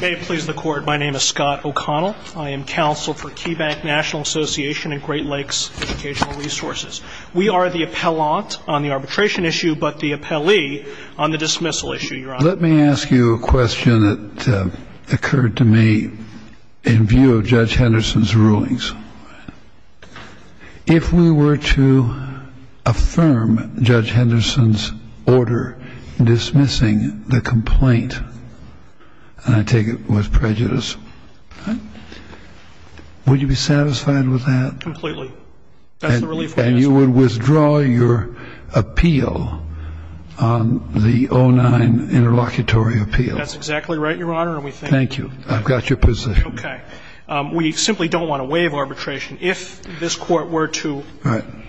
May it please the court, my name is Scott O'Connell. I am counsel for Keybank National Association and Great Lakes Educational Resources. We are the appellant on the arbitration issue, but the appellee on the dismissal issue, Your Honor. Let me ask you a question that occurred to me in view of Judge Henderson's rulings. If we were to affirm Judge Henderson's order dismissing the complaint, and I take it was prejudice, would you be satisfied with that? Completely. That's the relief we're asking for. And you would withdraw your appeal on the 09 interlocutory appeal? That's exactly right, Your Honor. Thank you. I've got your position. Okay. We simply don't want to waive arbitration. If this Court were to,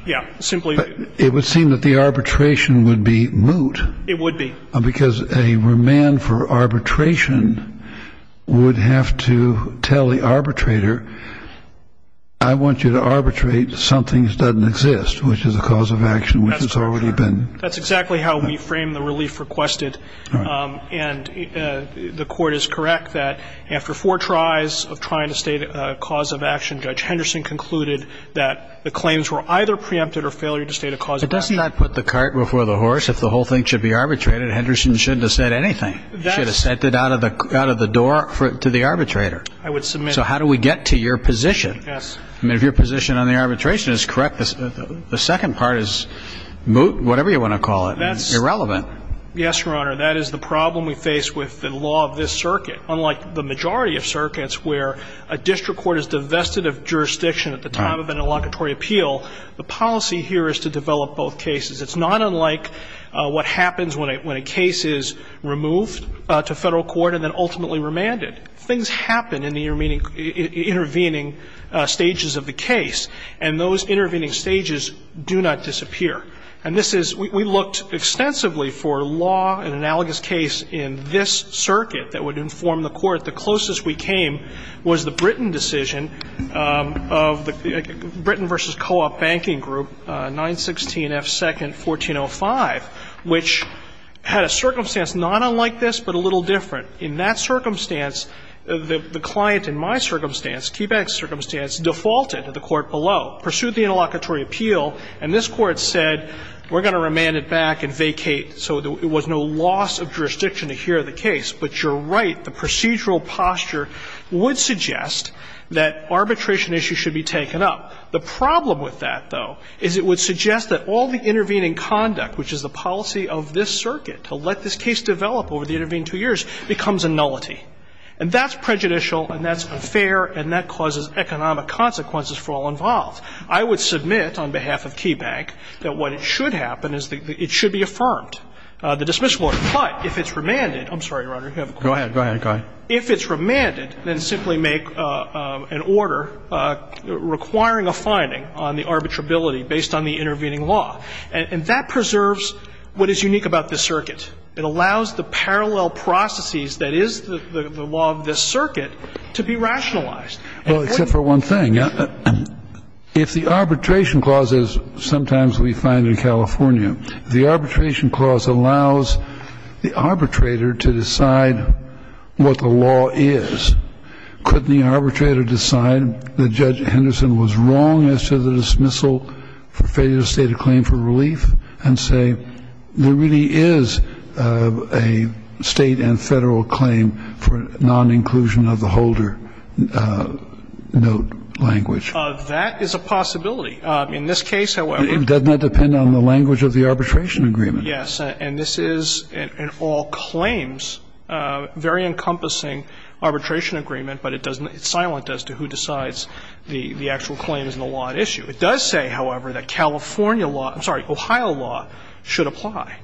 yeah, simply It would seem that the arbitration would be moot. It would be. Because a remand for arbitration would have to tell the arbitrator, I want you to arbitrate something that doesn't exist, which is a cause of action, which has already been That's exactly how we frame the relief requested. And the Court is correct that after four tries of trying to state a cause of action, Judge Henderson concluded that the claims were either preempted or failure to state a cause of action. But doesn't that put the cart before the horse? If the whole thing should be arbitrated, Henderson shouldn't have said anything. He should have sent it out of the door to the arbitrator. I would submit. So how do we get to your position? Yes. I mean, if your position on the arbitration is correct, the second part is moot, whatever you want to call it, irrelevant. Yes, Your Honor. That is the problem we face with the law of this circuit. Unlike the majority of circuits where a district court is divested of jurisdiction at the time of an inlocutory appeal, the policy here is to develop both cases. It's not unlike what happens when a case is removed to Federal court and then ultimately remanded. Things happen in the intervening stages of the case, and those intervening stages do not disappear. And this is we looked extensively for law, an analogous case in this circuit that would inform the Court. The closest we came was the Britain decision of the Britain v. Co-op Banking Group, 916 F. 2nd. 1405, which had a circumstance not unlike this but a little different. In that circumstance, the client in my circumstance, Keebeck's circumstance, defaulted to the court below, pursued the inlocutory appeal, and this Court said we're going to remand it back and vacate so there was no loss of jurisdiction to hear the case. But you're right. The procedural posture would suggest that arbitration issues should be taken up. The problem with that, though, is it would suggest that all the intervening conduct, which is the policy of this circuit to let this case develop over the intervening two years, becomes a nullity. And that's prejudicial and that's unfair and that causes economic consequences for all involved. I would submit on behalf of Keebeck that what should happen is it should be affirmed, the dismissal order. But if it's remanded, I'm sorry, Your Honor, you have a question. Roberts. Go ahead. Go ahead. Go ahead. If it's remanded, then simply make an order requiring a finding on the arbitrability based on the intervening law. And that preserves what is unique about this circuit. It allows the parallel processes that is the law of this circuit to be rationalized. Well, except for one thing. If the arbitration clause, as sometimes we find in California, the arbitration clause allows the arbitrator to decide what the law is, couldn't the arbitrator decide that Judge Henderson was wrong as to the dismissal for failure to state a claim for relief and say there really is a State and Federal claim for non-inclusion of the holder note language? That is a possibility. In this case, however. Doesn't that depend on the language of the arbitration agreement? Yes. And this is in all claims a very encompassing arbitration agreement, but it doesn't – it's silent as to who decides the actual claim is in the law at issue. It does say, however, that California law – I'm sorry, Ohio law should apply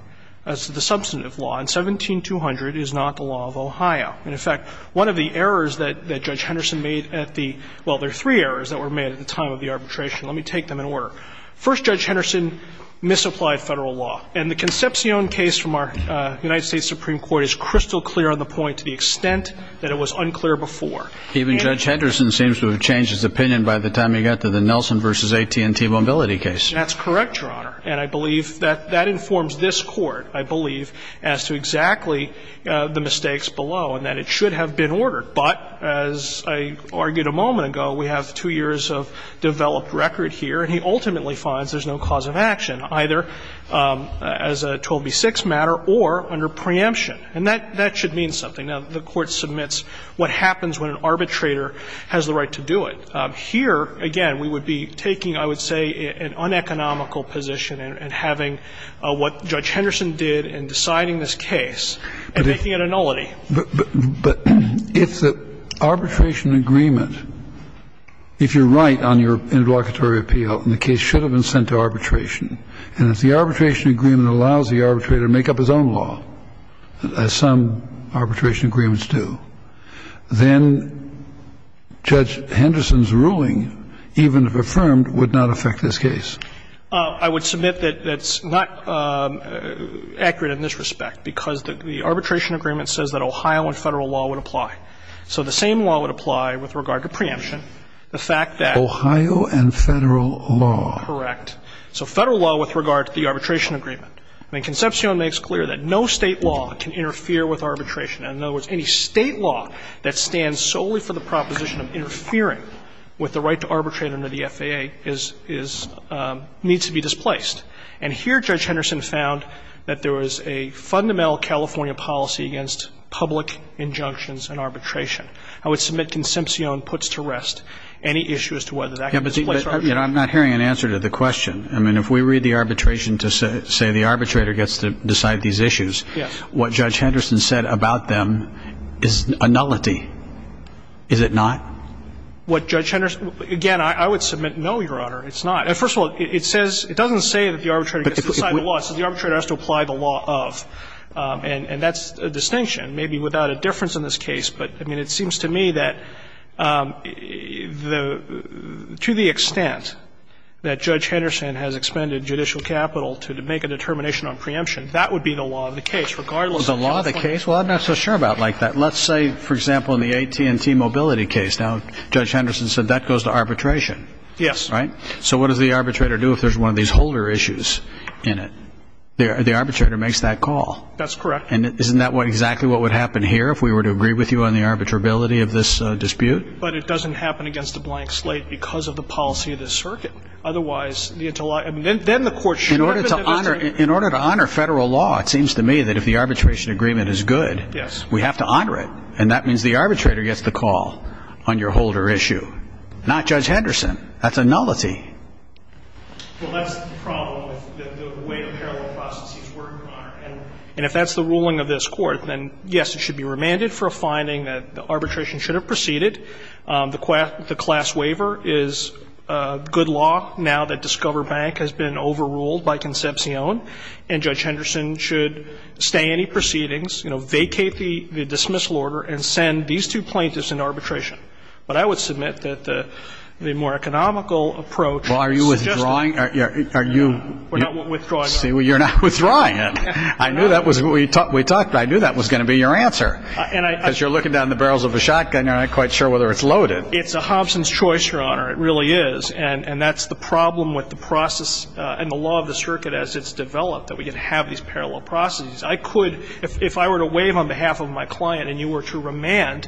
as to the substantive law. And 17200 is not the law of Ohio. And, in fact, one of the errors that Judge Henderson made at the – well, there are three errors that were made at the time of the arbitration. Let me take them in order. First, Judge Henderson misapplied Federal law. And the Concepcion case from our United States Supreme Court is crystal clear on the point to the extent that it was unclear before. Even Judge Henderson seems to have changed his opinion by the time he got to the Nelson v. AT&T mobility case. That's correct, Your Honor. And I believe that that informs this Court, I believe, as to exactly the mistakes below and that it should have been ordered. But as I argued a moment ago, we have two years of developed record here, and he ultimately finds there's no cause of action, either as a 12b-6 matter or under preemption. And that should mean something. Now, the Court submits what happens when an arbitrator has the right to do it. Here, again, we would be taking, I would say, an uneconomical position and having what Judge Henderson did in deciding this case and making it a nullity. But if the arbitration agreement, if you're right on your interlocutory appeal and the case should have been sent to arbitration, and if the arbitration agreement allows the arbitrator to make up his own law, as some arbitration agreements do, then Judge Henderson's ruling, even if affirmed, would not affect this case. I would submit that that's not accurate in this respect, because the arbitration agreement says that Ohio and Federal law would apply. So the same law would apply with regard to preemption. The fact that — Ohio and Federal law. Correct. So Federal law with regard to the arbitration agreement. I mean, Concepcion makes clear that no State law can interfere with arbitration. In other words, any State law that stands solely for the proposition of interfering with the right to arbitrate under the FAA is — needs to be displaced. And here Judge Henderson found that there was a fundamental California policy against public injunctions and arbitration. I would submit Concepcion puts to rest any issue as to whether that can be displaced or not. I'm not hearing an answer to the question. I mean, if we read the arbitration to say the arbitrator gets to decide these issues, what Judge Henderson said about them is a nullity, is it not? What Judge Henderson — again, I would submit, no, Your Honor, it's not. First of all, it says — it doesn't say that the arbitrator gets to decide the law. It says the arbitrator has to apply the law of. And that's a distinction, maybe without a difference in this case. But, I mean, it seems to me that the — to the extent that Judge Henderson has expended judicial capital to make a determination on preemption, that would be the law of the case, regardless of — The law of the case? Well, I'm not so sure about like that. Let's say, for example, in the AT&T mobility case. Now, Judge Henderson said that goes to arbitration. Yes. Right? So what does the arbitrator do if there's one of these holder issues in it? The arbitrator makes that call. That's correct. And isn't that exactly what would happen here if we were to agree with you on the arbitrability of this dispute? But it doesn't happen against a blank slate because of the policy of the circuit. Otherwise, the — I mean, then the court should have a — In order to honor — in order to honor Federal law, it seems to me that if the arbitration agreement is good — Yes. — we have to honor it. And that means the arbitrator gets the call on your holder issue. Not Judge Henderson. Well, that's the problem with the way the parallel processes work, Your Honor. And if that's the ruling of this Court, then, yes, it should be remanded for a finding that the arbitration should have proceeded. The class waiver is good law now that Discover Bank has been overruled by Concepcion. And Judge Henderson should stay any proceedings, you know, vacate the dismissal order and send these two plaintiffs into arbitration. But I would submit that the more economical approach suggests that — Well, are you withdrawing? Are you — We're not withdrawing. See, you're not withdrawing. I knew that was — we talked — I knew that was going to be your answer. And I — Because you're looking down the barrels of a shotgun. You're not quite sure whether it's loaded. It's a Hobson's choice, Your Honor. It really is. And that's the problem with the process and the law of the circuit as it's developed, that we can have these parallel processes. I could — if I were to waive on behalf of my client and you were to remand,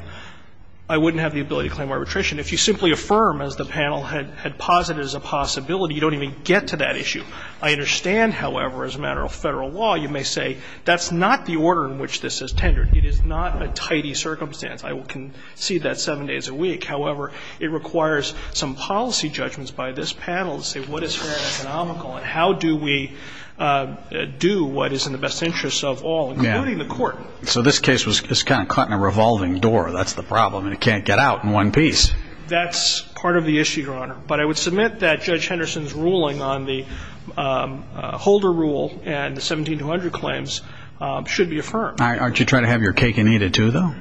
I wouldn't have the ability to claim arbitration. If you simply affirm, as the panel had posited as a possibility, you don't even get to that issue. I understand, however, as a matter of Federal law, you may say that's not the order in which this is tendered. It is not a tidy circumstance. I can see that seven days a week. However, it requires some policy judgments by this panel to say what is fair and economical and how do we do what is in the best interests of all, including the Court. So this case was kind of caught in a revolving door. That's the problem, and it can't get out in one piece. That's part of the issue, Your Honor. But I would submit that Judge Henderson's ruling on the Holder Rule and the 17200 claims should be affirmed. Aren't you trying to have your cake and eat it, too, though?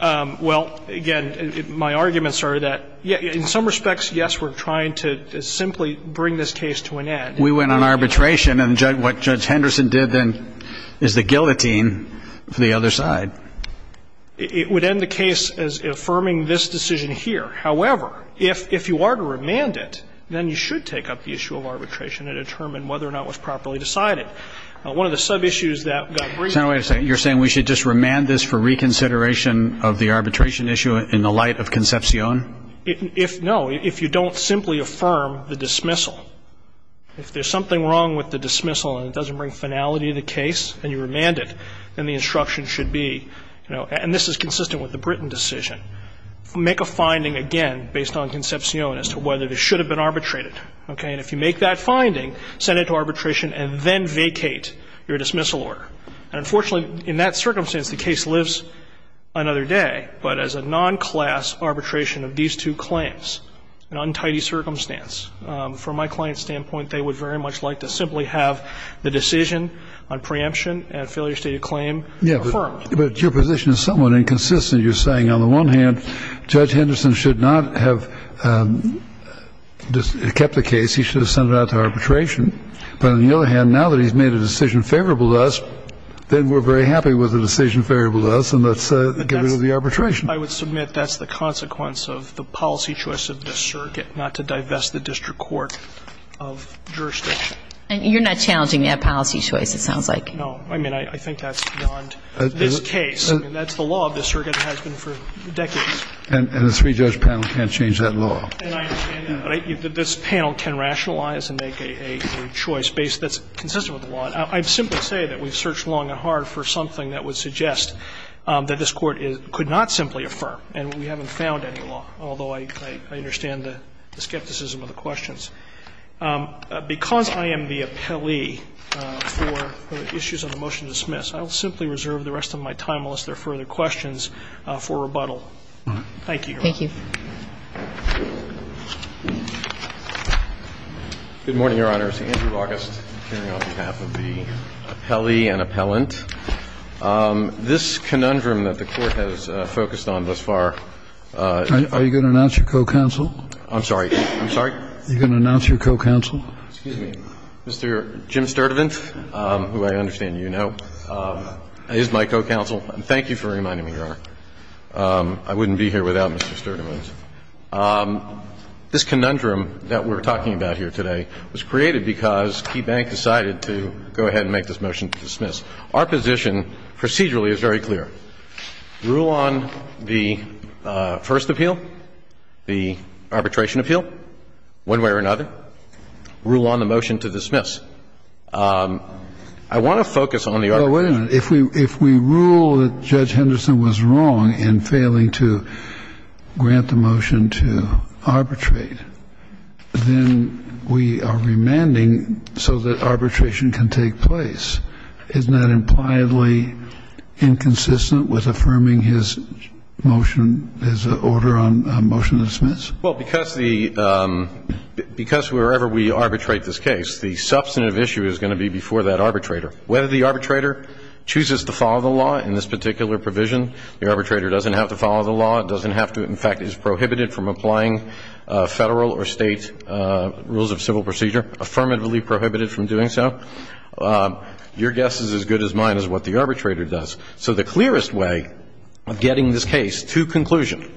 Well, again, my arguments are that in some respects, yes, we're trying to simply bring this case to an end. We went on arbitration, and what Judge Henderson did then is the guillotine for the other side. It would end the case as affirming this decision here. However, if you are to remand it, then you should take up the issue of arbitration and determine whether or not it was properly decided. One of the sub-issues that got brought up was the fact that it was a guillotine for the other side. So you're saying we should just remand this for reconsideration of the arbitration issue in the light of conception? No, if you don't simply affirm the dismissal. If there's something wrong with the dismissal and it doesn't bring finality to the case and you remand it, then the instruction should be, you know, and this is consistent with the Britain decision. Make a finding, again, based on conception as to whether this should have been arbitrated, okay? And if you make that finding, send it to arbitration and then vacate your dismissal order. And unfortunately, in that circumstance, the case lives another day. But as a non-class arbitration of these two claims, an untidy circumstance, from my client's standpoint, they would very much like to simply have the decision on preemption and a failure state of claim affirmed. But your position is somewhat inconsistent. You're saying, on the one hand, Judge Henderson should not have kept the case. He should have sent it out to arbitration. But on the other hand, now that he's made a decision favorable to us, then we're very happy with the decision favorable to us and let's get rid of the arbitration. I would submit that's the consequence of the policy choice of this circuit not to divest the district court of jurisdiction. And you're not challenging that policy choice, it sounds like. No. I mean, I think that's beyond this case. I mean, that's the law of this circuit that has been for decades. And the three-judge panel can't change that law. And I understand that. But this panel can rationalize and make a choice that's consistent with the law. I'd simply say that we've searched long and hard for something that would suggest that this Court could not simply affirm. And we haven't found any law, although I understand the skepticism of the questions. Because I am the appellee for the issues of the motion to dismiss, I'll simply reserve the rest of my time, unless there are further questions, for rebuttal. Thank you, Your Honor. Thank you. Good morning, Your Honor. It's Andrew August, appearing on behalf of the appellee and appellant. This conundrum that the Court has focused on thus far. Are you going to announce your co-counsel? I'm sorry. I'm sorry? Are you going to announce your co-counsel? Excuse me. Mr. Jim Sturtevant, who I understand you know, is my co-counsel. And thank you for reminding me, Your Honor. I wouldn't be here without Mr. Sturtevant. This conundrum that we're talking about here today was created because Key Bank decided to go ahead and make this motion to dismiss. Our position procedurally is very clear. Rule on the first appeal, the arbitration appeal, one way or another. Rule on the motion to dismiss. I want to focus on the arbitration. Well, wait a minute. If we rule that Judge Henderson was wrong in failing to grant the motion to arbitrate, then we are remanding so that arbitration can take place. Isn't that impliedly inconsistent with affirming his motion, his order on motion to dismiss? Well, because wherever we arbitrate this case, the substantive issue is going to be before that arbitrator. Whether the arbitrator chooses to follow the law in this particular provision, the arbitrator doesn't have to follow the law, doesn't have to, in fact, is prohibited from applying Federal or State rules of civil procedure, affirmatively prohibited from doing so. Your guess is as good as mine as what the arbitrator does. So the clearest way of getting this case to conclusion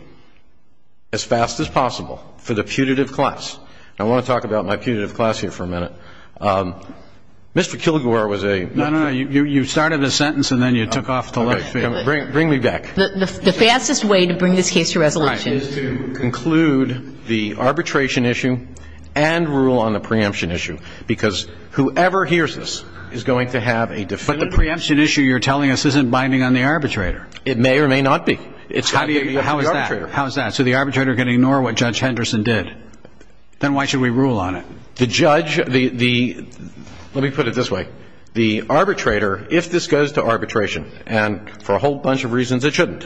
as fast as possible for the putative class. I want to talk about my putative class here for a minute. Mr. Kilgore was a one- No, no, no. You started the sentence and then you took off to the left. Bring me back. The fastest way to bring this case to resolution is to conclude the arbitration issue and rule on the preemption issue because whoever hears this is going to have a definitive- But the preemption issue you're telling us isn't binding on the arbitrator. It may or may not be. How is that? How is that? So the arbitrator can ignore what Judge Henderson did. Then why should we rule on it? The judge, the, let me put it this way, the arbitrator, if this goes to arbitration, and for a whole bunch of reasons it shouldn't,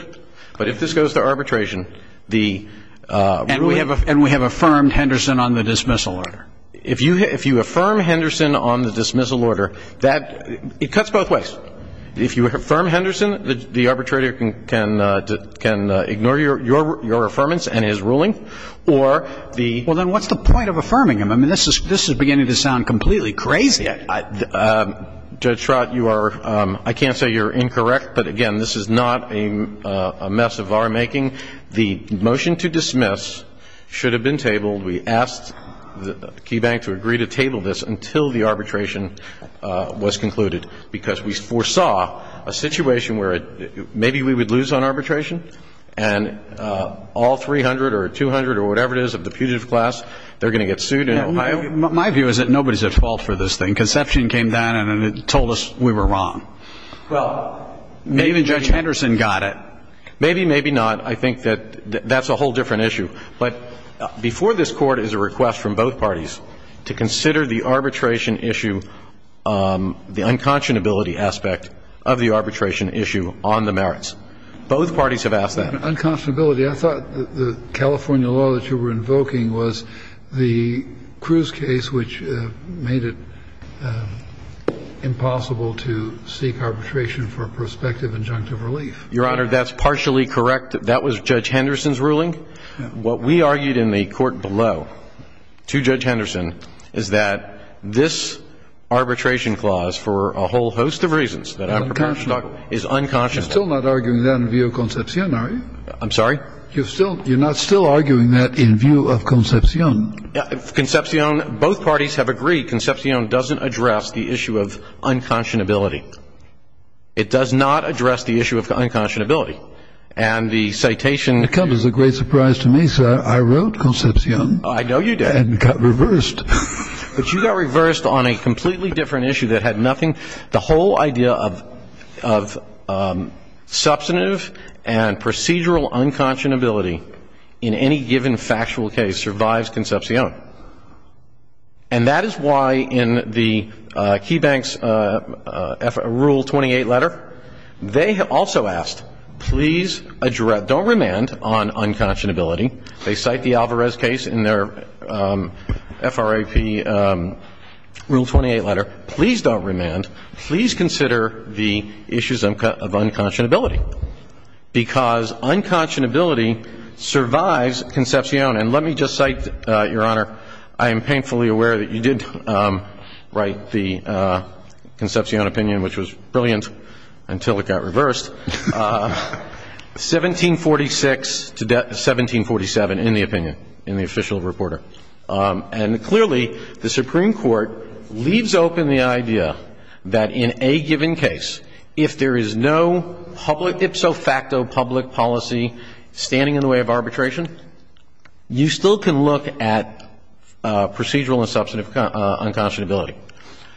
but if this goes to arbitration, the- And we have affirmed Henderson on the dismissal order. If you affirm Henderson on the dismissal order, that, it cuts both ways. If you affirm Henderson, the arbitrator can ignore your affirmance and his ruling or the- Well, then what's the point of affirming him? I mean, this is beginning to sound completely crazy. Judge Schrott, you are, I can't say you're incorrect, but, again, this is not a mess of our making. The motion to dismiss should have been tabled. We asked KeyBank to agree to table this until the arbitration was concluded, because we foresaw a situation where maybe we would lose on arbitration, and all 300 or 200 or whatever it is of the putative class, they're going to get sued. My view is that nobody's at fault for this thing. Conception came down and told us we were wrong. Well, maybe- Even Judge Henderson got it. Maybe, maybe not. I think that that's a whole different issue. But before this Court is a request from both parties to consider the arbitration issue, the unconscionability aspect of the arbitration issue on the merits. Both parties have asked that. Unconscionability, I thought the California law that you were invoking was the Cruz case, which made it impossible to seek arbitration for a prospective injunctive relief. Your Honor, that's partially correct. That was Judge Henderson's ruling. What we argued in the Court below to Judge Henderson is that this arbitration clause for a whole host of reasons- Unconscionable. Is unconscionable. You're still not arguing that in view of Concepcion, are you? I'm sorry? You're not still arguing that in view of Concepcion? Concepcion, both parties have agreed Concepcion doesn't address the issue of unconscionability. It does not address the issue of unconscionability. And the citation- It comes as a great surprise to me, sir. I wrote Concepcion. I know you did. And got reversed. But you got reversed on a completely different issue that had nothing- The whole idea of substantive and procedural unconscionability in any given factual case survives Concepcion. And that is why in the KeyBank's Rule 28 letter, they also asked, please don't remand on unconscionability. They cite the Alvarez case in their FRAP Rule 28 letter. Please don't remand. Please consider the issues of unconscionability. Because unconscionability survives Concepcion. And let me just cite, Your Honor, I am painfully aware that you did write the Concepcion opinion, which was brilliant until it got reversed, 1746 to 1747 in the opinion, in the official reporter. And clearly, the Supreme Court leaves open the idea that in a given case, if there is no public, ipso facto public policy standing in the way of arbitration, you still can look at procedural and substantive unconscionability.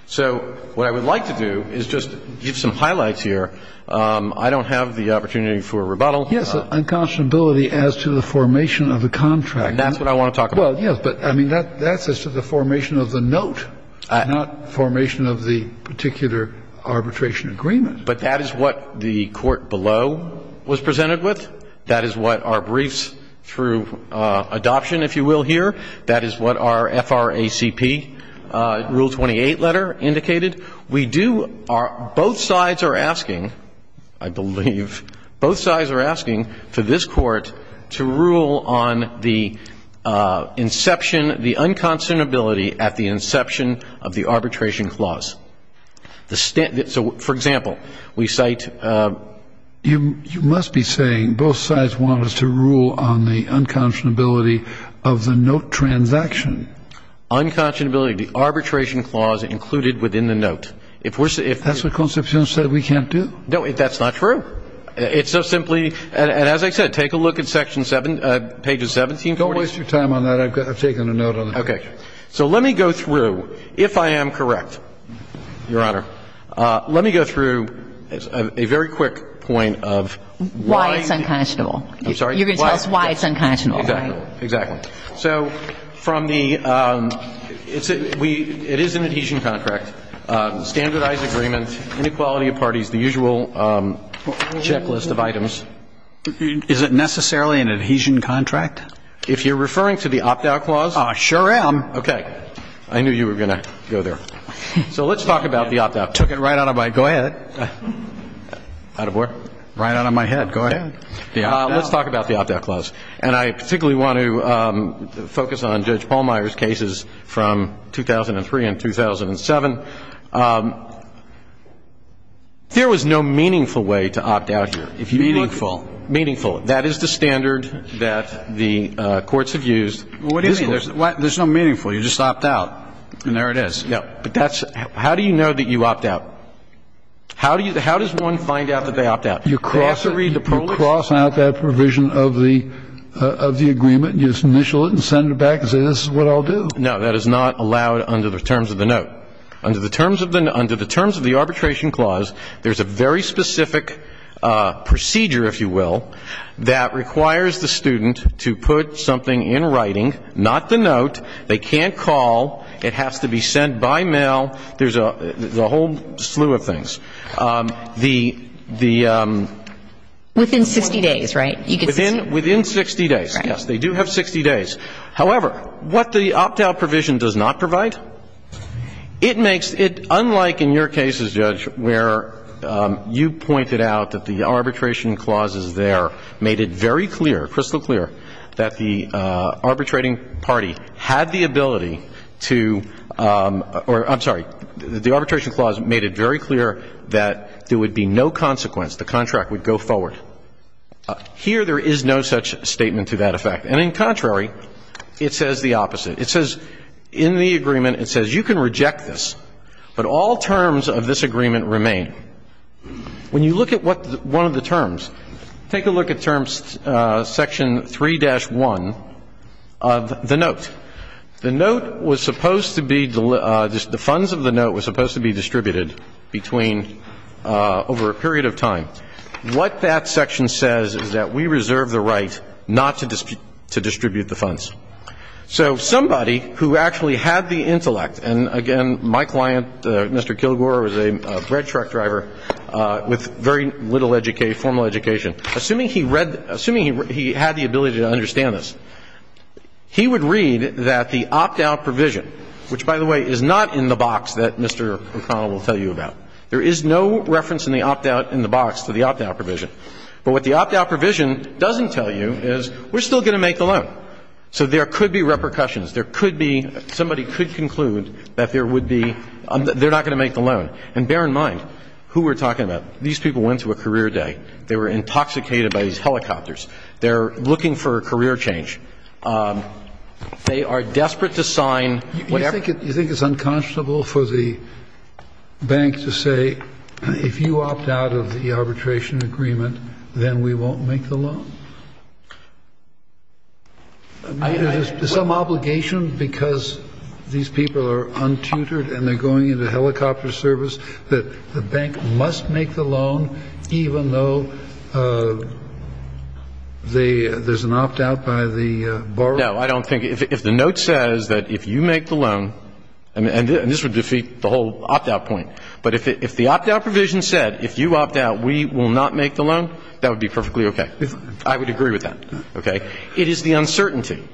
So what I would like to do is just give some highlights here. I don't have the opportunity for rebuttal. Yes, unconscionability as to the formation of the contract. That's what I want to talk about. Well, yes, but I mean, that's as to the formation of the note, not formation of the particular arbitration agreement. But that is what the court below was presented with. That is what our briefs through adoption, if you will, here. That is what our FRACP Rule 28 letter indicated. We do our ‑‑ both sides are asking, I believe, both sides are asking for this court to rule on the inception, the unconscionability at the inception of the arbitration clause. So, for example, we cite ‑‑ You must be saying both sides want us to rule on the unconscionability of the note transaction. Unconscionability of the arbitration clause included within the note. If we're ‑‑ That's what Constitutional said we can't do. No, that's not true. It's so simply ‑‑ and as I said, take a look at page 1740. Don't waste your time on that. I've taken a note on it. Okay. So let me go through, if I am correct, Your Honor, let me go through a very quick point of why ‑‑ Why it's unconscionable. I'm sorry? You're going to tell us why it's unconscionable. Exactly. Exactly. So from the ‑‑ it is an adhesion contract, standardized agreement, inequality of parties, the usual checklist of items. Is it necessarily an adhesion contract? If you're referring to the opt‑out clause? I sure am. Okay. I knew you were going to go there. So let's talk about the opt‑out clause. I took it right out of my head. Go ahead. Out of where? Right out of my head. Go ahead. Let's talk about the opt‑out clause. And I particularly want to focus on Judge Pallmeyer's cases from 2003 and 2007. There was no meaningful way to opt out here. Meaningful. Meaningful. That is the standard that the courts have used. What do you mean? There's no meaningful. You just opt out. And there it is. Yeah. But that's ‑‑ how do you know that you opt out? How do you ‑‑ how does one find out that they opt out? You cross out that provision of the agreement. You just initial it and send it back and say this is what I'll do. No, that is not allowed under the terms of the note. Under the terms of the arbitration clause, there's a very specific procedure, if you will, that requires the student to put something in writing, not the note. They can't call. It has to be sent by mail. There's a whole slew of things. The ‑‑ Within 60 days, right? Within 60 days, yes. They do have 60 days. However, what the opt‑out provision does not provide, it makes it unlike in your made it very clear, crystal clear, that the arbitrating party had the ability to ‑‑ or I'm sorry, the arbitration clause made it very clear that there would be no consequence. The contract would go forward. Here there is no such statement to that effect. And in contrary, it says the opposite. It says in the agreement, it says you can reject this, but all terms of this agreement remain. When you look at one of the terms, take a look at section 3‑1 of the note. The note was supposed to be ‑‑ the funds of the note was supposed to be distributed over a period of time. What that section says is that we reserve the right not to distribute the funds. So somebody who actually had the intellect, and again, my client, Mr. Kilgore, was a red truck driver with very little formal education, assuming he had the ability to understand this, he would read that the opt‑out provision, which, by the way, is not in the box that Mr. O'Connell will tell you about. There is no reference in the opt‑out in the box to the opt‑out provision. But what the opt‑out provision doesn't tell you is we're still going to make the loan. So there could be repercussions. There could be ‑‑ somebody could conclude that there would be ‑‑ they're not going to make the loan. And bear in mind who we're talking about. These people went through a career day. They were intoxicated by these helicopters. They're looking for a career change. They are desperate to sign whatever ‑‑ You think it's unconscionable for the bank to say if you opt out of the arbitration agreement, then we won't make the loan? Is there some obligation because these people are untutored and they're going into helicopter service that the bank must make the loan, even though there's an opt‑out by the borrower? No, I don't think ‑‑ if the note says that if you make the loan, and this would defeat the whole opt‑out point, but if the opt‑out provision said if you opt out, we will not make the loan, that would be perfectly okay. I would agree with that. Okay. It is the uncertainty.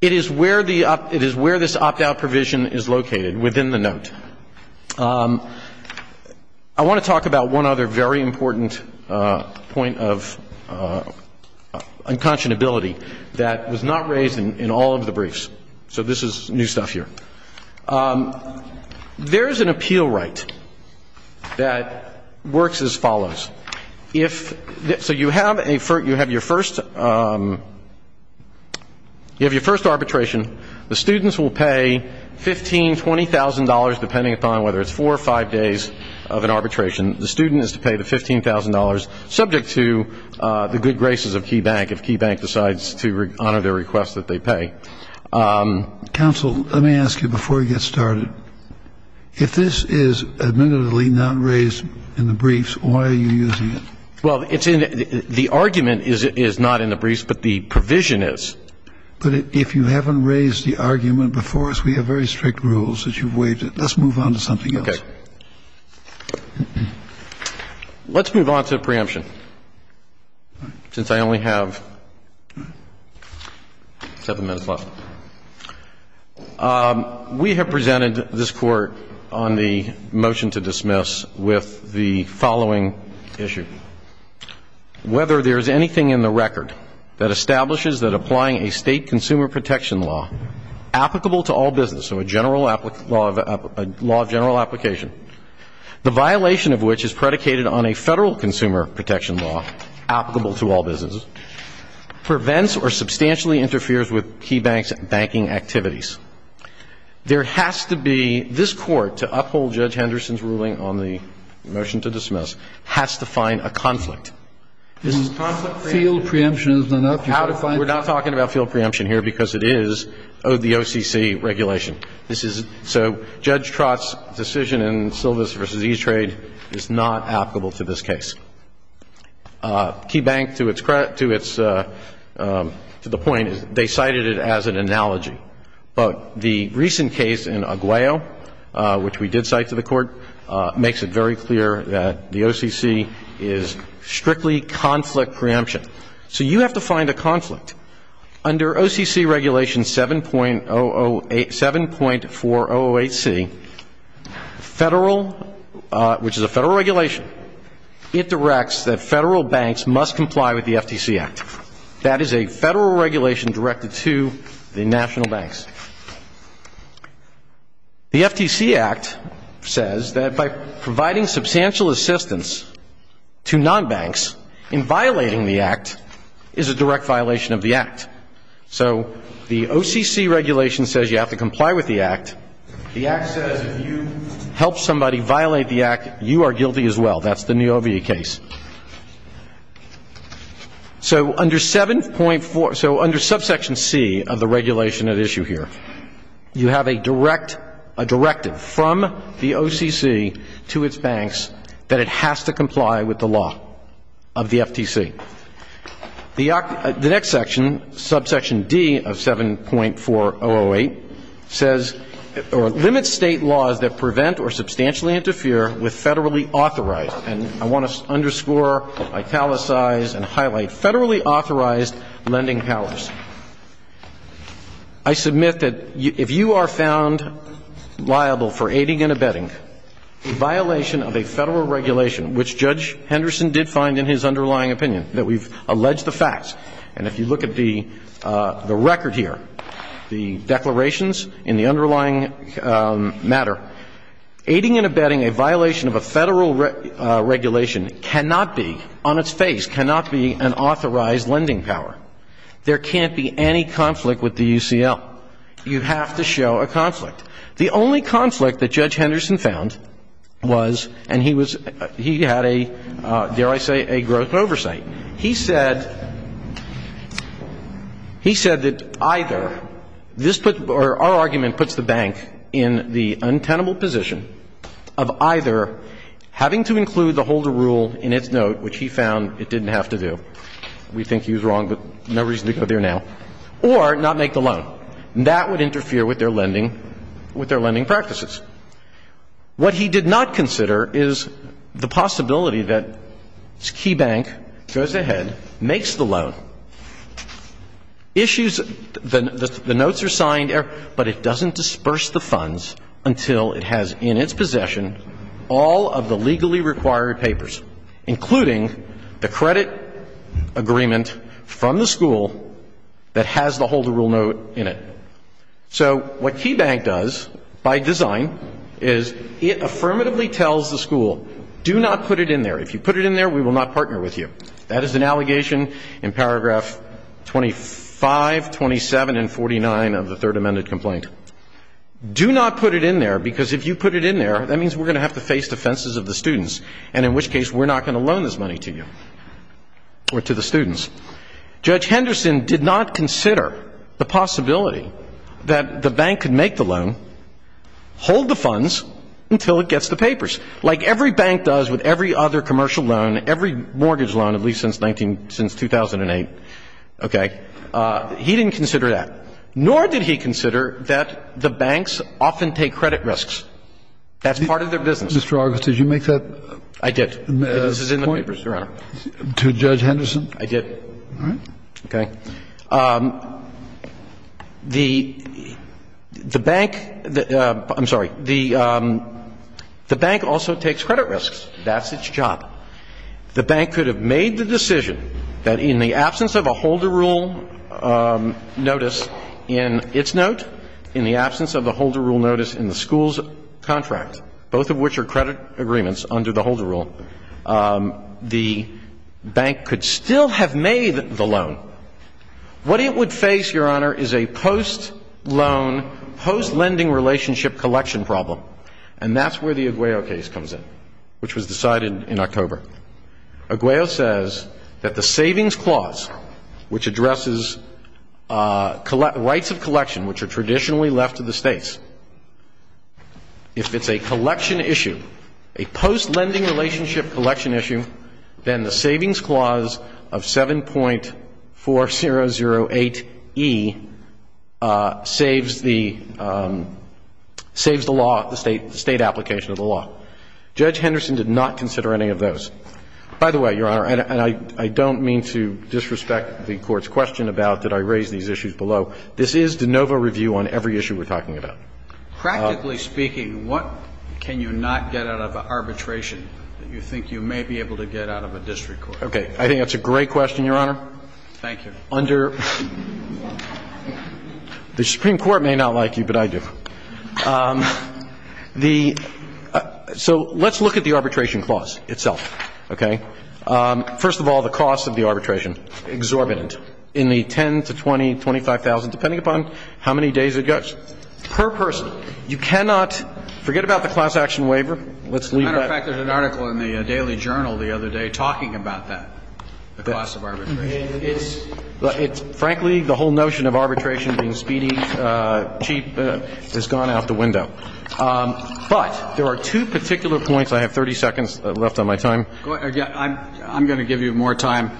It is where this opt‑out provision is located within the note. I want to talk about one other very important point of unconscionability that was not raised in all of the briefs. So this is new stuff here. There is an appeal right that works as follows. So you have your first arbitration. The students will pay $15,000, $20,000, depending upon whether it's four or five days of an arbitration. The student is to pay the $15,000, subject to the good graces of KeyBank if KeyBank decides to honor their request that they pay. Counsel, let me ask you before we get started. If this is admittedly not raised in the briefs, why are you using it? Well, the argument is not in the briefs, but the provision is. But if you haven't raised the argument before us, we have very strict rules that you've waived it. Let's move on to something else. Okay. Let's move on to preemption, since I only have seven minutes left. We have presented this Court on the motion to dismiss with the following issue. Whether there is anything in the record that establishes that applying a state consumer protection law applicable to all business, so a law of general application, the violation of which is predicated on a federal consumer protection law applicable to all businesses, prevents or substantially interferes with KeyBank's banking activities. There has to be, this Court, to uphold Judge Henderson's ruling on the motion to dismiss, has to find a conflict. Field preemption is not up. We're not talking about field preemption here because it is the OCC regulation. So Judge Trott's decision in Silvis v. E-Trade is not applicable to this case. KeyBank, to the point, they cited it as an analogy. But the recent case in Aguayo, which we did cite to the Court, makes it very clear that the OCC is strictly conflict preemption. So you have to find a conflict. Under OCC regulation 7.008C, federal, which is a federal regulation, it directs that federal banks must comply with the FTC Act. That is a federal regulation directed to the national banks. The FTC Act says that by providing substantial assistance to non-banks in violating the Act is a direct violation of the Act. So the OCC regulation says you have to comply with the Act. The Act says if you help somebody violate the Act, you are guilty as well. That's the Novie case. So under 7.4, so under subsection C of the regulation at issue here, you have a direct, a directive from the OCC to its banks that it has to comply with the law of the FTC. The next section, subsection D of 7.4008, says, or limits State laws that prevent or substantially interfere with federally authorized. And I want to underscore, italicize, and highlight federally authorized lending powers. I submit that if you are found liable for aiding and abetting a violation of a federal regulation, which Judge Henderson did find in his underlying opinion, that we've alleged the facts, and if you look at the record here, the declarations in the underlying matter, aiding and abetting a violation of a federal regulation cannot be, on its face, cannot be an authorized lending power. There can't be any conflict with the UCL. You have to show a conflict. The only conflict that Judge Henderson found was, and he was, he had a, dare I say, a growth oversight. He said, he said that either this put, or our argument puts the bank in the untenable position of either having to include the holder rule in its note, which he found it didn't have to do. We think he was wrong, but no reason to go there now. Or not make the loan. That would interfere with their lending, with their lending practices. What he did not consider is the possibility that Key Bank goes ahead, makes the loan, issues the notes are signed, but it doesn't disperse the funds until it has in its possession all of the legally required papers, including the credit agreement from the school that has the holder rule note in it. So what Key Bank does, by design, is it affirmatively tells the school, do not put it in there. If you put it in there, we will not partner with you. That is an allegation in paragraph 25, 27, and 49 of the Third Amended Complaint. Do not put it in there, because if you put it in there, that means we're going to have to face defenses of the students, and in which case we're not going to loan this money to you, or to the students. Judge Henderson did not consider the possibility that the bank could make the loan, hold the funds until it gets the papers, like every bank does with every other commercial loan, every mortgage loan, at least since 2008. Okay? He didn't consider that. Nor did he consider that the banks often take credit risks. That's part of their business. Mr. August, did you make that point? I did. This is in the papers, Your Honor. To Judge Henderson? I did. Okay. The bank, I'm sorry, the bank also takes credit risks. That's its job. The bank could have made the decision that in the absence of a holder rule notice in its note, in the absence of a holder rule notice in the school's contract, both of which are credit agreements under the holder rule, the bank could still have made the loan. What it would face, Your Honor, is a post-loan, post-lending relationship collection problem, and that's where the Aguayo case comes in, which was decided in October. Aguayo says that the savings clause, which addresses rights of collection, which are traditionally left to the States, if it's a collection issue, a post-lending relationship collection issue, then the savings clause of 7.4008E saves the law, the State application of the law. Judge Henderson did not consider any of those. By the way, Your Honor, and I don't mean to disrespect the Court's question about did I raise these issues below, I just do not consider that a district court case to be a district court case. So this is de novo review on every issue we're talking about. Practically speaking, what can you not get out of an arbitration that you think you may be able to get out of a district court? Okay. I think that's a great question, Your Honor. Thank you. Under the Supreme Court may not like you, but I do. So let's look at the arbitration clause itself, okay? First of all, the cost of the arbitration, exorbitant, in the $10,000 to $20,000, $25,000, depending upon how many days it goes. Per person. You cannot forget about the class action waiver. As a matter of fact, there's an article in the Daily Journal the other day talking about that, the cost of arbitration. It's frankly the whole notion of arbitration being speedy, cheap has gone out the window. But there are two particular points. I have 30 seconds left on my time. I'm going to give you more time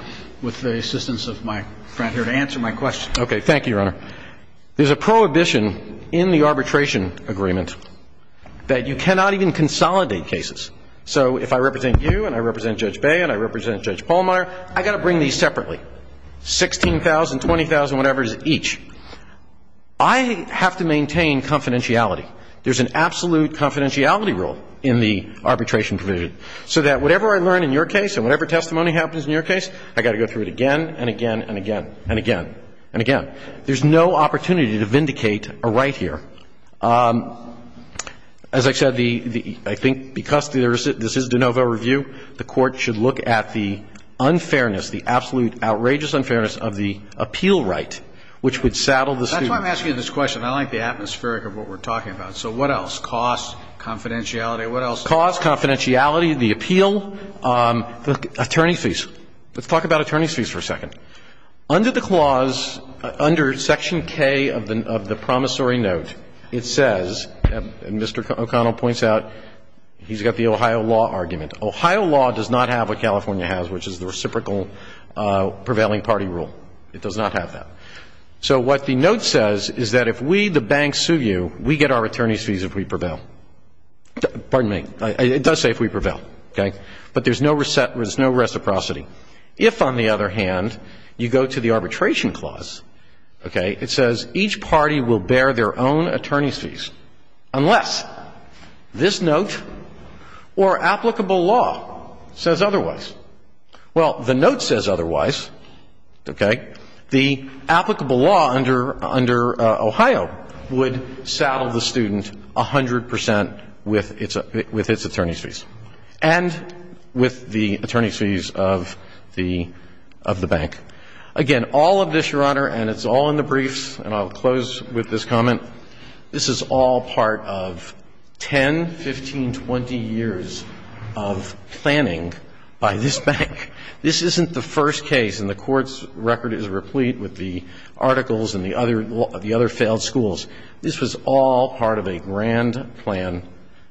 with the assistance of my friend here to answer my question. Okay. Thank you, Your Honor. There's a prohibition in the arbitration agreement that you cannot even consolidate cases. So if I represent you and I represent Judge Bayh and I represent Judge Pallmeyer, I've got to bring these separately, $16,000, $20,000, whatever it is each. I have to maintain confidentiality. There's an absolute confidentiality rule in the arbitration provision, so that whatever I learn in your case and whatever testimony happens in your case, I've got to go through it again and again and again and again and again. There's no opportunity to vindicate a right here. As I said, I think because this is de novo review, the Court should look at the unfairness, the absolute outrageous unfairness of the appeal right, which would saddle the student. That's why I'm asking you this question. I like the atmospheric of what we're talking about. So what else? Cost, confidentiality. What else? Cost, confidentiality, the appeal. Attorney's fees. Let's talk about attorney's fees for a second. Under the clause, under section K of the promissory note, it says, and Mr. O'Connell points out, he's got the Ohio law argument. Ohio law does not have what California has, which is the reciprocal prevailing party rule. It does not have that. So what the note says is that if we, the bank, sue you, we get our attorney's fees if we prevail. Pardon me. It does say if we prevail, okay? But there's no reciprocity. If, on the other hand, you go to the arbitration clause, okay, it says each party will bear their own attorney's fees, unless this note or applicable law says otherwise. Well, the note says otherwise, okay? The applicable law under Ohio would saddle the student 100 percent with its attorney's fees and with the attorney's fees of the bank. Again, all of this, Your Honor, and it's all in the briefs, and I'll close with this comment. This is all part of 10, 15, 20 years of planning by this bank. This isn't the first case, and the court's record is replete with the articles and the other failed schools. This was all part of a grand plan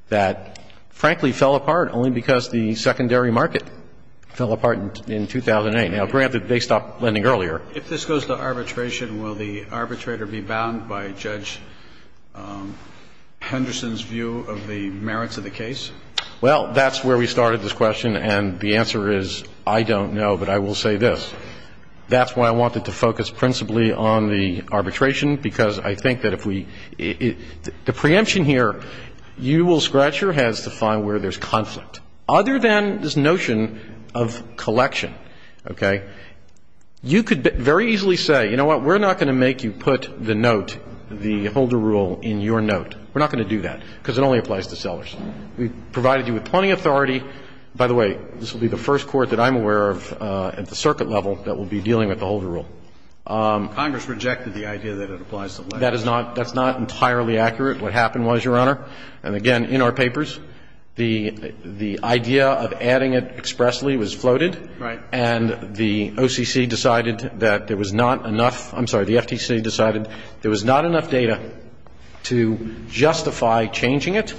that, frankly, fell apart only because the secondary market fell apart in 2008. Now, granted, they stopped lending earlier. If this goes to arbitration, will the arbitrator be bound by Judge Henderson's view of the merits of the case? Well, that's where we started this question, and the answer is I don't know, but I will say this. That's why I wanted to focus principally on the arbitration, because I think that if we the preemption here, you will scratch your heads to find where there's conflict. Other than this notion of collection, okay, you could very easily say, you know what, we're not going to make you put the note, the holder rule, in your note. We're not going to do that, because it only applies to sellers. We've provided you with plenty of authority. By the way, this will be the first court that I'm aware of at the circuit level that will be dealing with the holder rule. Congress rejected the idea that it applies to letters. That is not entirely accurate. What happened was, Your Honor, and again, in our papers, the idea of adding it expressly was floated. Right. And the OCC decided that there was not enough – I'm sorry, the FTC decided there was not enough data to justify changing it,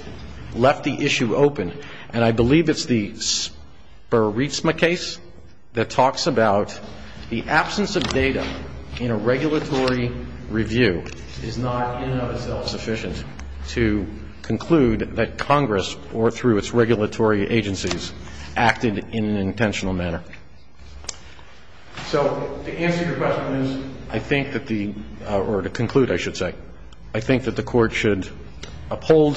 left the issue open. And I believe it's the Spur Rizma case that talks about the absence of data in a regulatory review is not in and of itself sufficient to conclude that Congress, or through its regulatory agencies, acted in an intentional manner. So the answer to your question is, I think that the – or to conclude, I should say, I think that the Court should uphold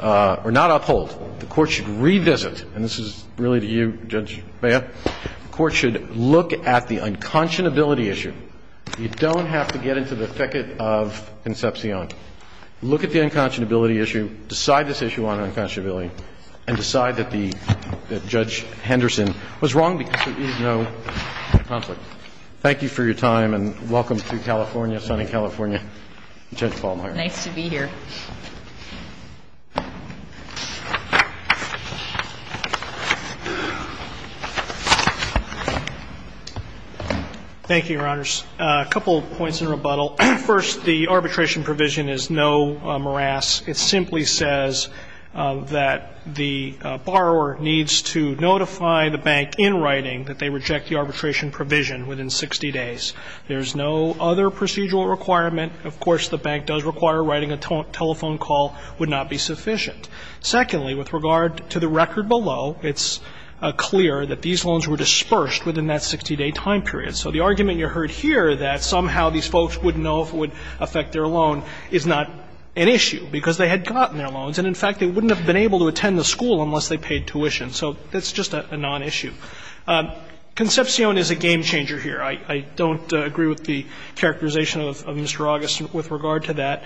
– or not uphold. The Court should revisit – and this is really to you, Judge Beyer – the Court should look at the unconscionability issue. You don't have to get into the thicket of Concepcion. Look at the unconscionability issue, decide this issue on unconscionability, and decide that the – that Judge Henderson was wrong because there is no conflict. Thank you for your time, and welcome to California, sunny California. Judge Ballmeyer. Nice to be here. Thank you, Your Honors. A couple of points in rebuttal. First, the arbitration provision is no morass. It simply says that the borrower needs to notify the bank in writing that they reject the arbitration provision within 60 days. There is no other procedural requirement. Of course, the bank does require writing a telephone call would not be sufficient. Secondly, with regard to the record below, it's clear that these loans were dispersed within that 60-day time period. So the argument you heard here that somehow these folks wouldn't know if it would affect their loan is not an issue, because they had gotten their loans, and in fact they wouldn't have been able to attend the school unless they paid tuition. So that's just a nonissue. Concepcion is a game changer here. I don't agree with the characterization of Mr. August with regard to that.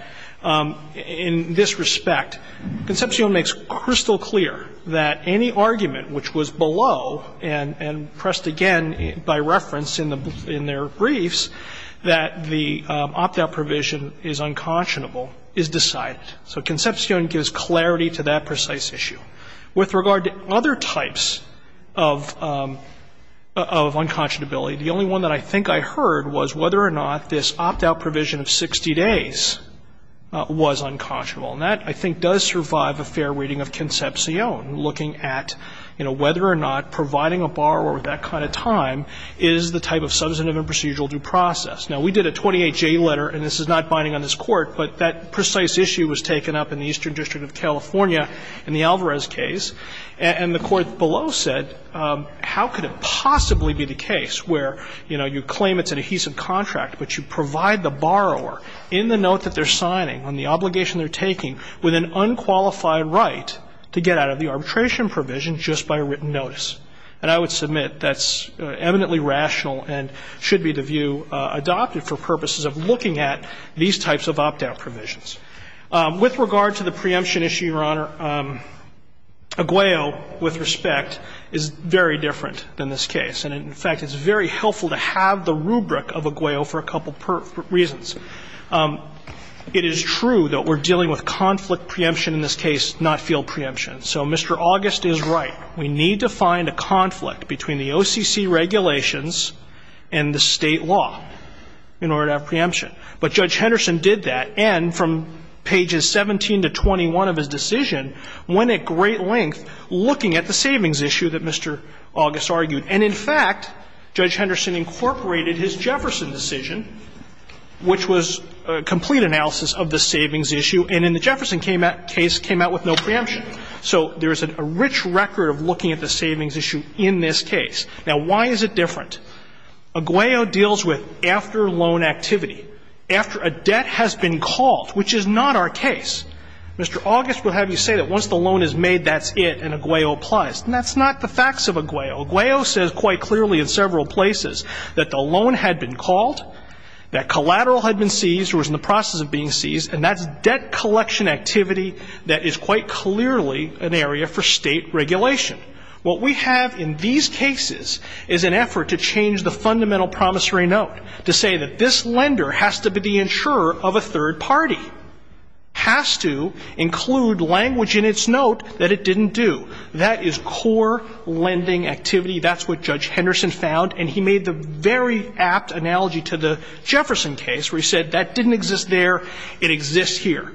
In this respect, Concepcion makes crystal clear that any argument which was below and pressed again by reference in their briefs that the opt-out provision is unconscionable is decided. So Concepcion gives clarity to that precise issue. With regard to other types of unconscionability, the only one that I think I heard was whether or not this opt-out provision of 60 days was unconscionable. And that, I think, does survive a fair reading of Concepcion, looking at, you know, whether or not providing a borrower with that kind of time is the type of substantive and procedural due process. Now, we did a 28J letter, and this is not binding on this Court, but that precise issue was taken up in the Eastern District of California in the Alvarez case. And the Court below said how could it possibly be the case where, you know, you claim it's an adhesive contract, but you provide the borrower in the note that they're signing, on the obligation they're taking, with an unqualified right to get out of the arbitration provision just by written notice. And I would submit that's eminently rational and should be the view adopted for purposes of looking at these types of opt-out provisions. With regard to the preemption issue, Your Honor, Aguayo, with respect, is very different than this case. And, in fact, it's very helpful to have the rubric of Aguayo for a couple reasons. It is true that we're dealing with conflict preemption in this case, not field preemption. So Mr. August is right. We need to find a conflict between the OCC regulations and the State law in order to have preemption. But Judge Henderson did that. And from pages 17 to 21 of his decision, went at great length looking at the savings issue that Mr. August argued. And, in fact, Judge Henderson incorporated his Jefferson decision, which was a complete analysis of the savings issue. And in the Jefferson case, came out with no preemption. So there is a rich record of looking at the savings issue in this case. Now, why is it different? Aguayo deals with after loan activity, after a debt has been called, which is not our case. Mr. August will have you say that once the loan is made, that's it, and Aguayo applies. And that's not the facts of Aguayo. Aguayo says quite clearly in several places that the loan had been called, that collateral had been seized or was in the process of being seized, and that's debt collection activity that is quite clearly an area for State regulation. What we have in these cases is an effort to change the fundamental promissory note, to say that this lender has to be the insurer of a third party, has to include language in its note that it didn't do. That is core lending activity. That's what Judge Henderson found. And he made the very apt analogy to the Jefferson case, where he said that didn't exist there, it exists here.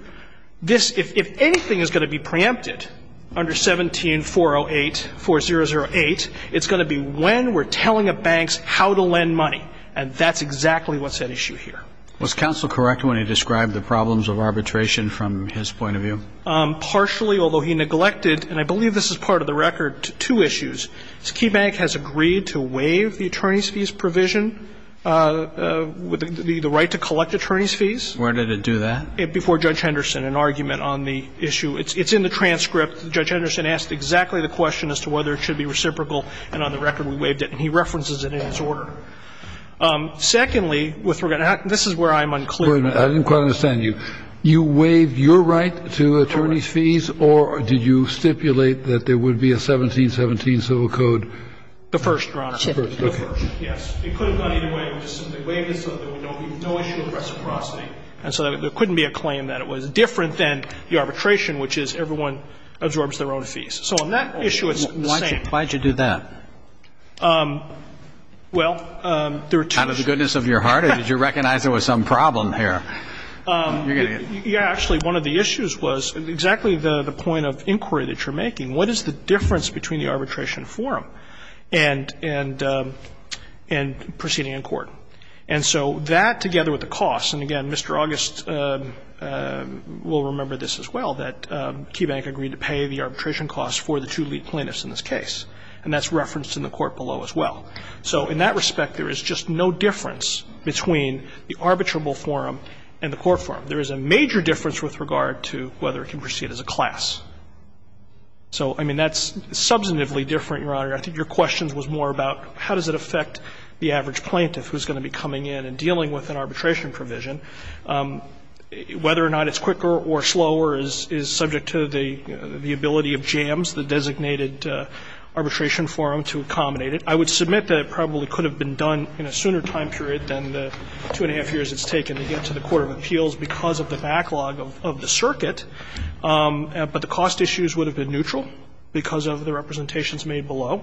If anything is going to be preempted under 17408, 4008, it's going to be when we're telling the banks how to lend money, and that's exactly what's at issue here. Was counsel correct when he described the problems of arbitration from his point of view? Partially, although he neglected, and I believe this is part of the record, two issues. Key Bank has agreed to waive the attorney's fees provision, the right to collect attorney's fees. Where did it do that? Before Judge Henderson, an argument on the issue. It's in the transcript. Judge Henderson asked exactly the question as to whether it should be reciprocal, and on the record we waived it. And he references it in his order. Secondly, this is where I'm unclear. I didn't quite understand you. You waived your right to attorney's fees, or did you stipulate that there would be a 1717 civil code? The first, Your Honor. The first, okay. Yes. It could have gone either way. We just simply waived it so there would be no issue of reciprocity. And so there couldn't be a claim that it was different than the arbitration, which is everyone absorbs their own fees. So on that issue, it's the same. Why did you do that? Well, there are two issues. Out of the goodness of your heart, or did you recognize there was some problem here? You're getting it. Actually, one of the issues was exactly the point of inquiry that you're making. What is the difference between the arbitration forum and proceeding in court? And so that, together with the costs, and again, Mr. August will remember this as well, that KeyBank agreed to pay the arbitration costs for the two lead plaintiffs in this case. And that's referenced in the court below as well. So in that respect, there is just no difference between the arbitrable forum and the court forum. There is a major difference with regard to whether it can proceed as a class. So, I mean, that's substantively different, Your Honor. I think your question was more about how does it affect the average plaintiff who is going to be coming in and dealing with an arbitration provision, whether or not it's quicker or slower is subject to the ability of JAMS, the designated arbitration forum, to accommodate it. I would submit that it probably could have been done in a sooner time period than the two and a half years it's taken to get to the court of appeals because of the backlog of the circuit. But the cost issues would have been neutral because of the representations made below.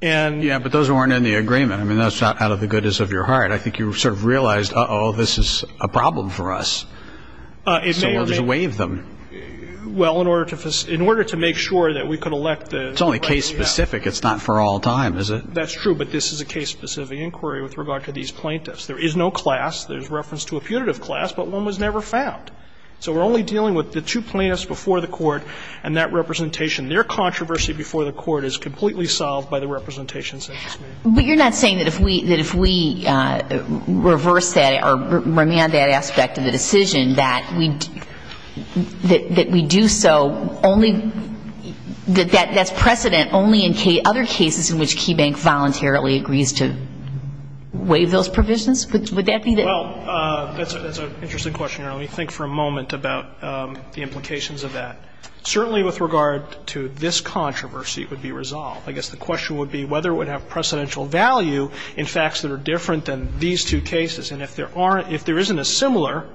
And. But those weren't in the agreement. I mean, that's not out of the goodness of your heart. I think you sort of realized, uh-oh, this is a problem for us. So we'll just waive them. Well, in order to make sure that we could elect the right thing to happen. It's only case-specific. It's not for all time, is it? That's true. But this is a case-specific inquiry with regard to these plaintiffs. There is no class. There's reference to a putative class, but one was never found. So we're only dealing with the two plaintiffs before the court and that representation. Their controversy before the court is completely solved by the representations that were made. But you're not saying that if we reverse that or remand that aspect of the decision that we do so only that that's precedent only in other cases in which KeyBank voluntarily agrees to waive those provisions? Would that be the. Well, that's an interesting question. Let me think for a moment about the implications of that. Certainly with regard to this controversy, it would be resolved. I guess the question would be whether it would have precedential value in facts that are different than these two cases. And if there aren't, if there isn't a similar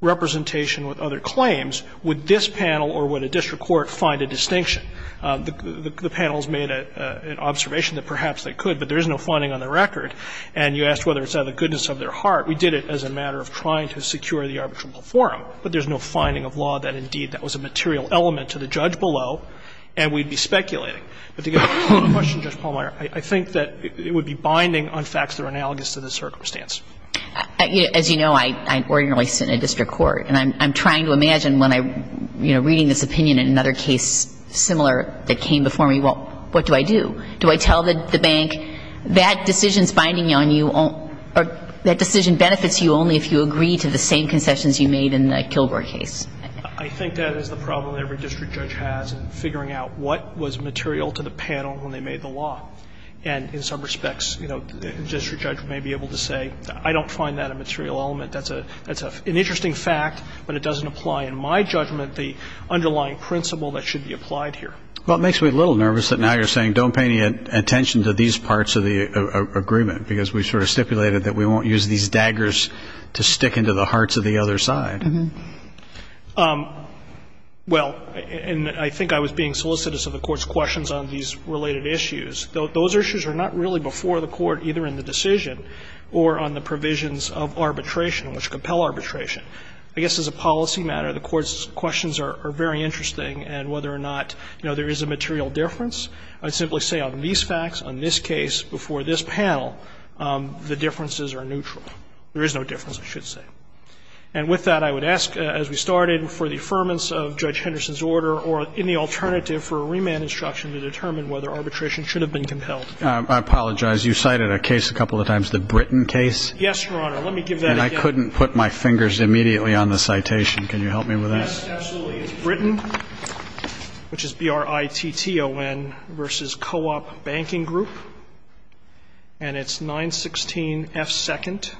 representation with other claims, would this panel or would a district court find a distinction? The panels made an observation that perhaps they could, but there is no finding on the record. And you asked whether it's out of the goodness of their heart. We did it as a matter of trying to secure the arbitrable forum. But there's no finding of law that, indeed, that was a material element to the judge below, and we'd be speculating. But to get to the question, Justice Palmer, I think that it would be binding on facts that are analogous to the circumstance. As you know, I ordinarily sit in a district court. And I'm trying to imagine when I'm, you know, reading this opinion in another case similar that came before me, well, what do I do? Do I tell the bank that decision's binding on you or that decision benefits you only if you agree to the same concessions you made in the Kilgore case? I think that is the problem every district judge has in figuring out what was material to the panel when they made the law. And in some respects, you know, the district judge may be able to say, I don't find that a material element. That's an interesting fact, but it doesn't apply, in my judgment, the underlying principle that should be applied here. Well, it makes me a little nervous that now you're saying don't pay any attention to these parts of the agreement, because we sort of stipulated that we won't use these to stick into the hearts of the other side. Well, and I think I was being solicitous of the Court's questions on these related issues. Those issues are not really before the Court, either in the decision or on the provisions of arbitration which compel arbitration. I guess as a policy matter, the Court's questions are very interesting, and whether or not, you know, there is a material difference, I'd simply say on these facts, on this case, before this panel, the differences are neutral. There is no difference, I should say. And with that, I would ask, as we started, for the affirmance of Judge Henderson's order or any alternative for a remand instruction to determine whether arbitration should have been compelled. I apologize. You cited a case a couple of times, the Britain case. Yes, Your Honor. Let me give that again. And I couldn't put my fingers immediately on the citation. Can you help me with that? Yes, absolutely. It's Britain, which is B-R-I-T-T-O-N, versus Co-op Banking Group. And it's 916 F. 2nd,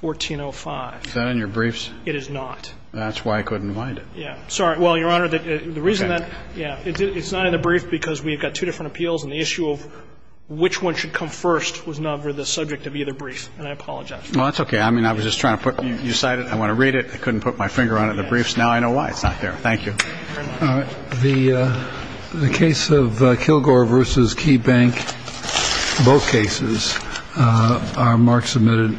1405. Is that in your briefs? It is not. That's why I couldn't find it. Yeah. Sorry. Well, Your Honor, the reason that the reason that, yeah, it's not in the brief because we've got two different appeals, and the issue of which one should come first was not really the subject of either brief. And I apologize. Well, that's okay. I mean, I was just trying to put you cited. I want to read it. I couldn't put my finger on it in the briefs. Now I know why it's not there. Thank you. The case of Kilgore versus Key Bank, both cases are marked submitted.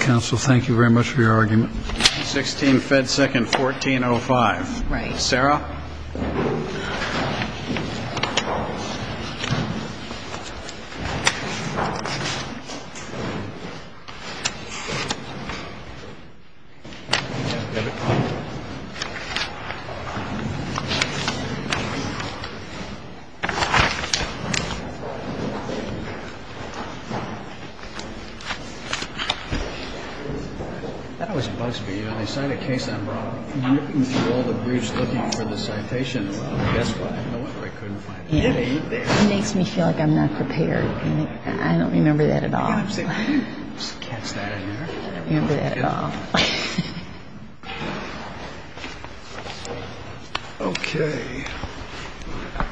Counsel, thank you very much for your argument. 916 F. 2nd, 1405. Right. Sarah? That always bugs me. You know, they cite a case I brought up. I'm looking through all the briefs looking for the citations. Guess what? No wonder I couldn't find it. Yeah. It makes me feel like I'm not prepared. I don't remember that at all. Okay. Okay. Okay.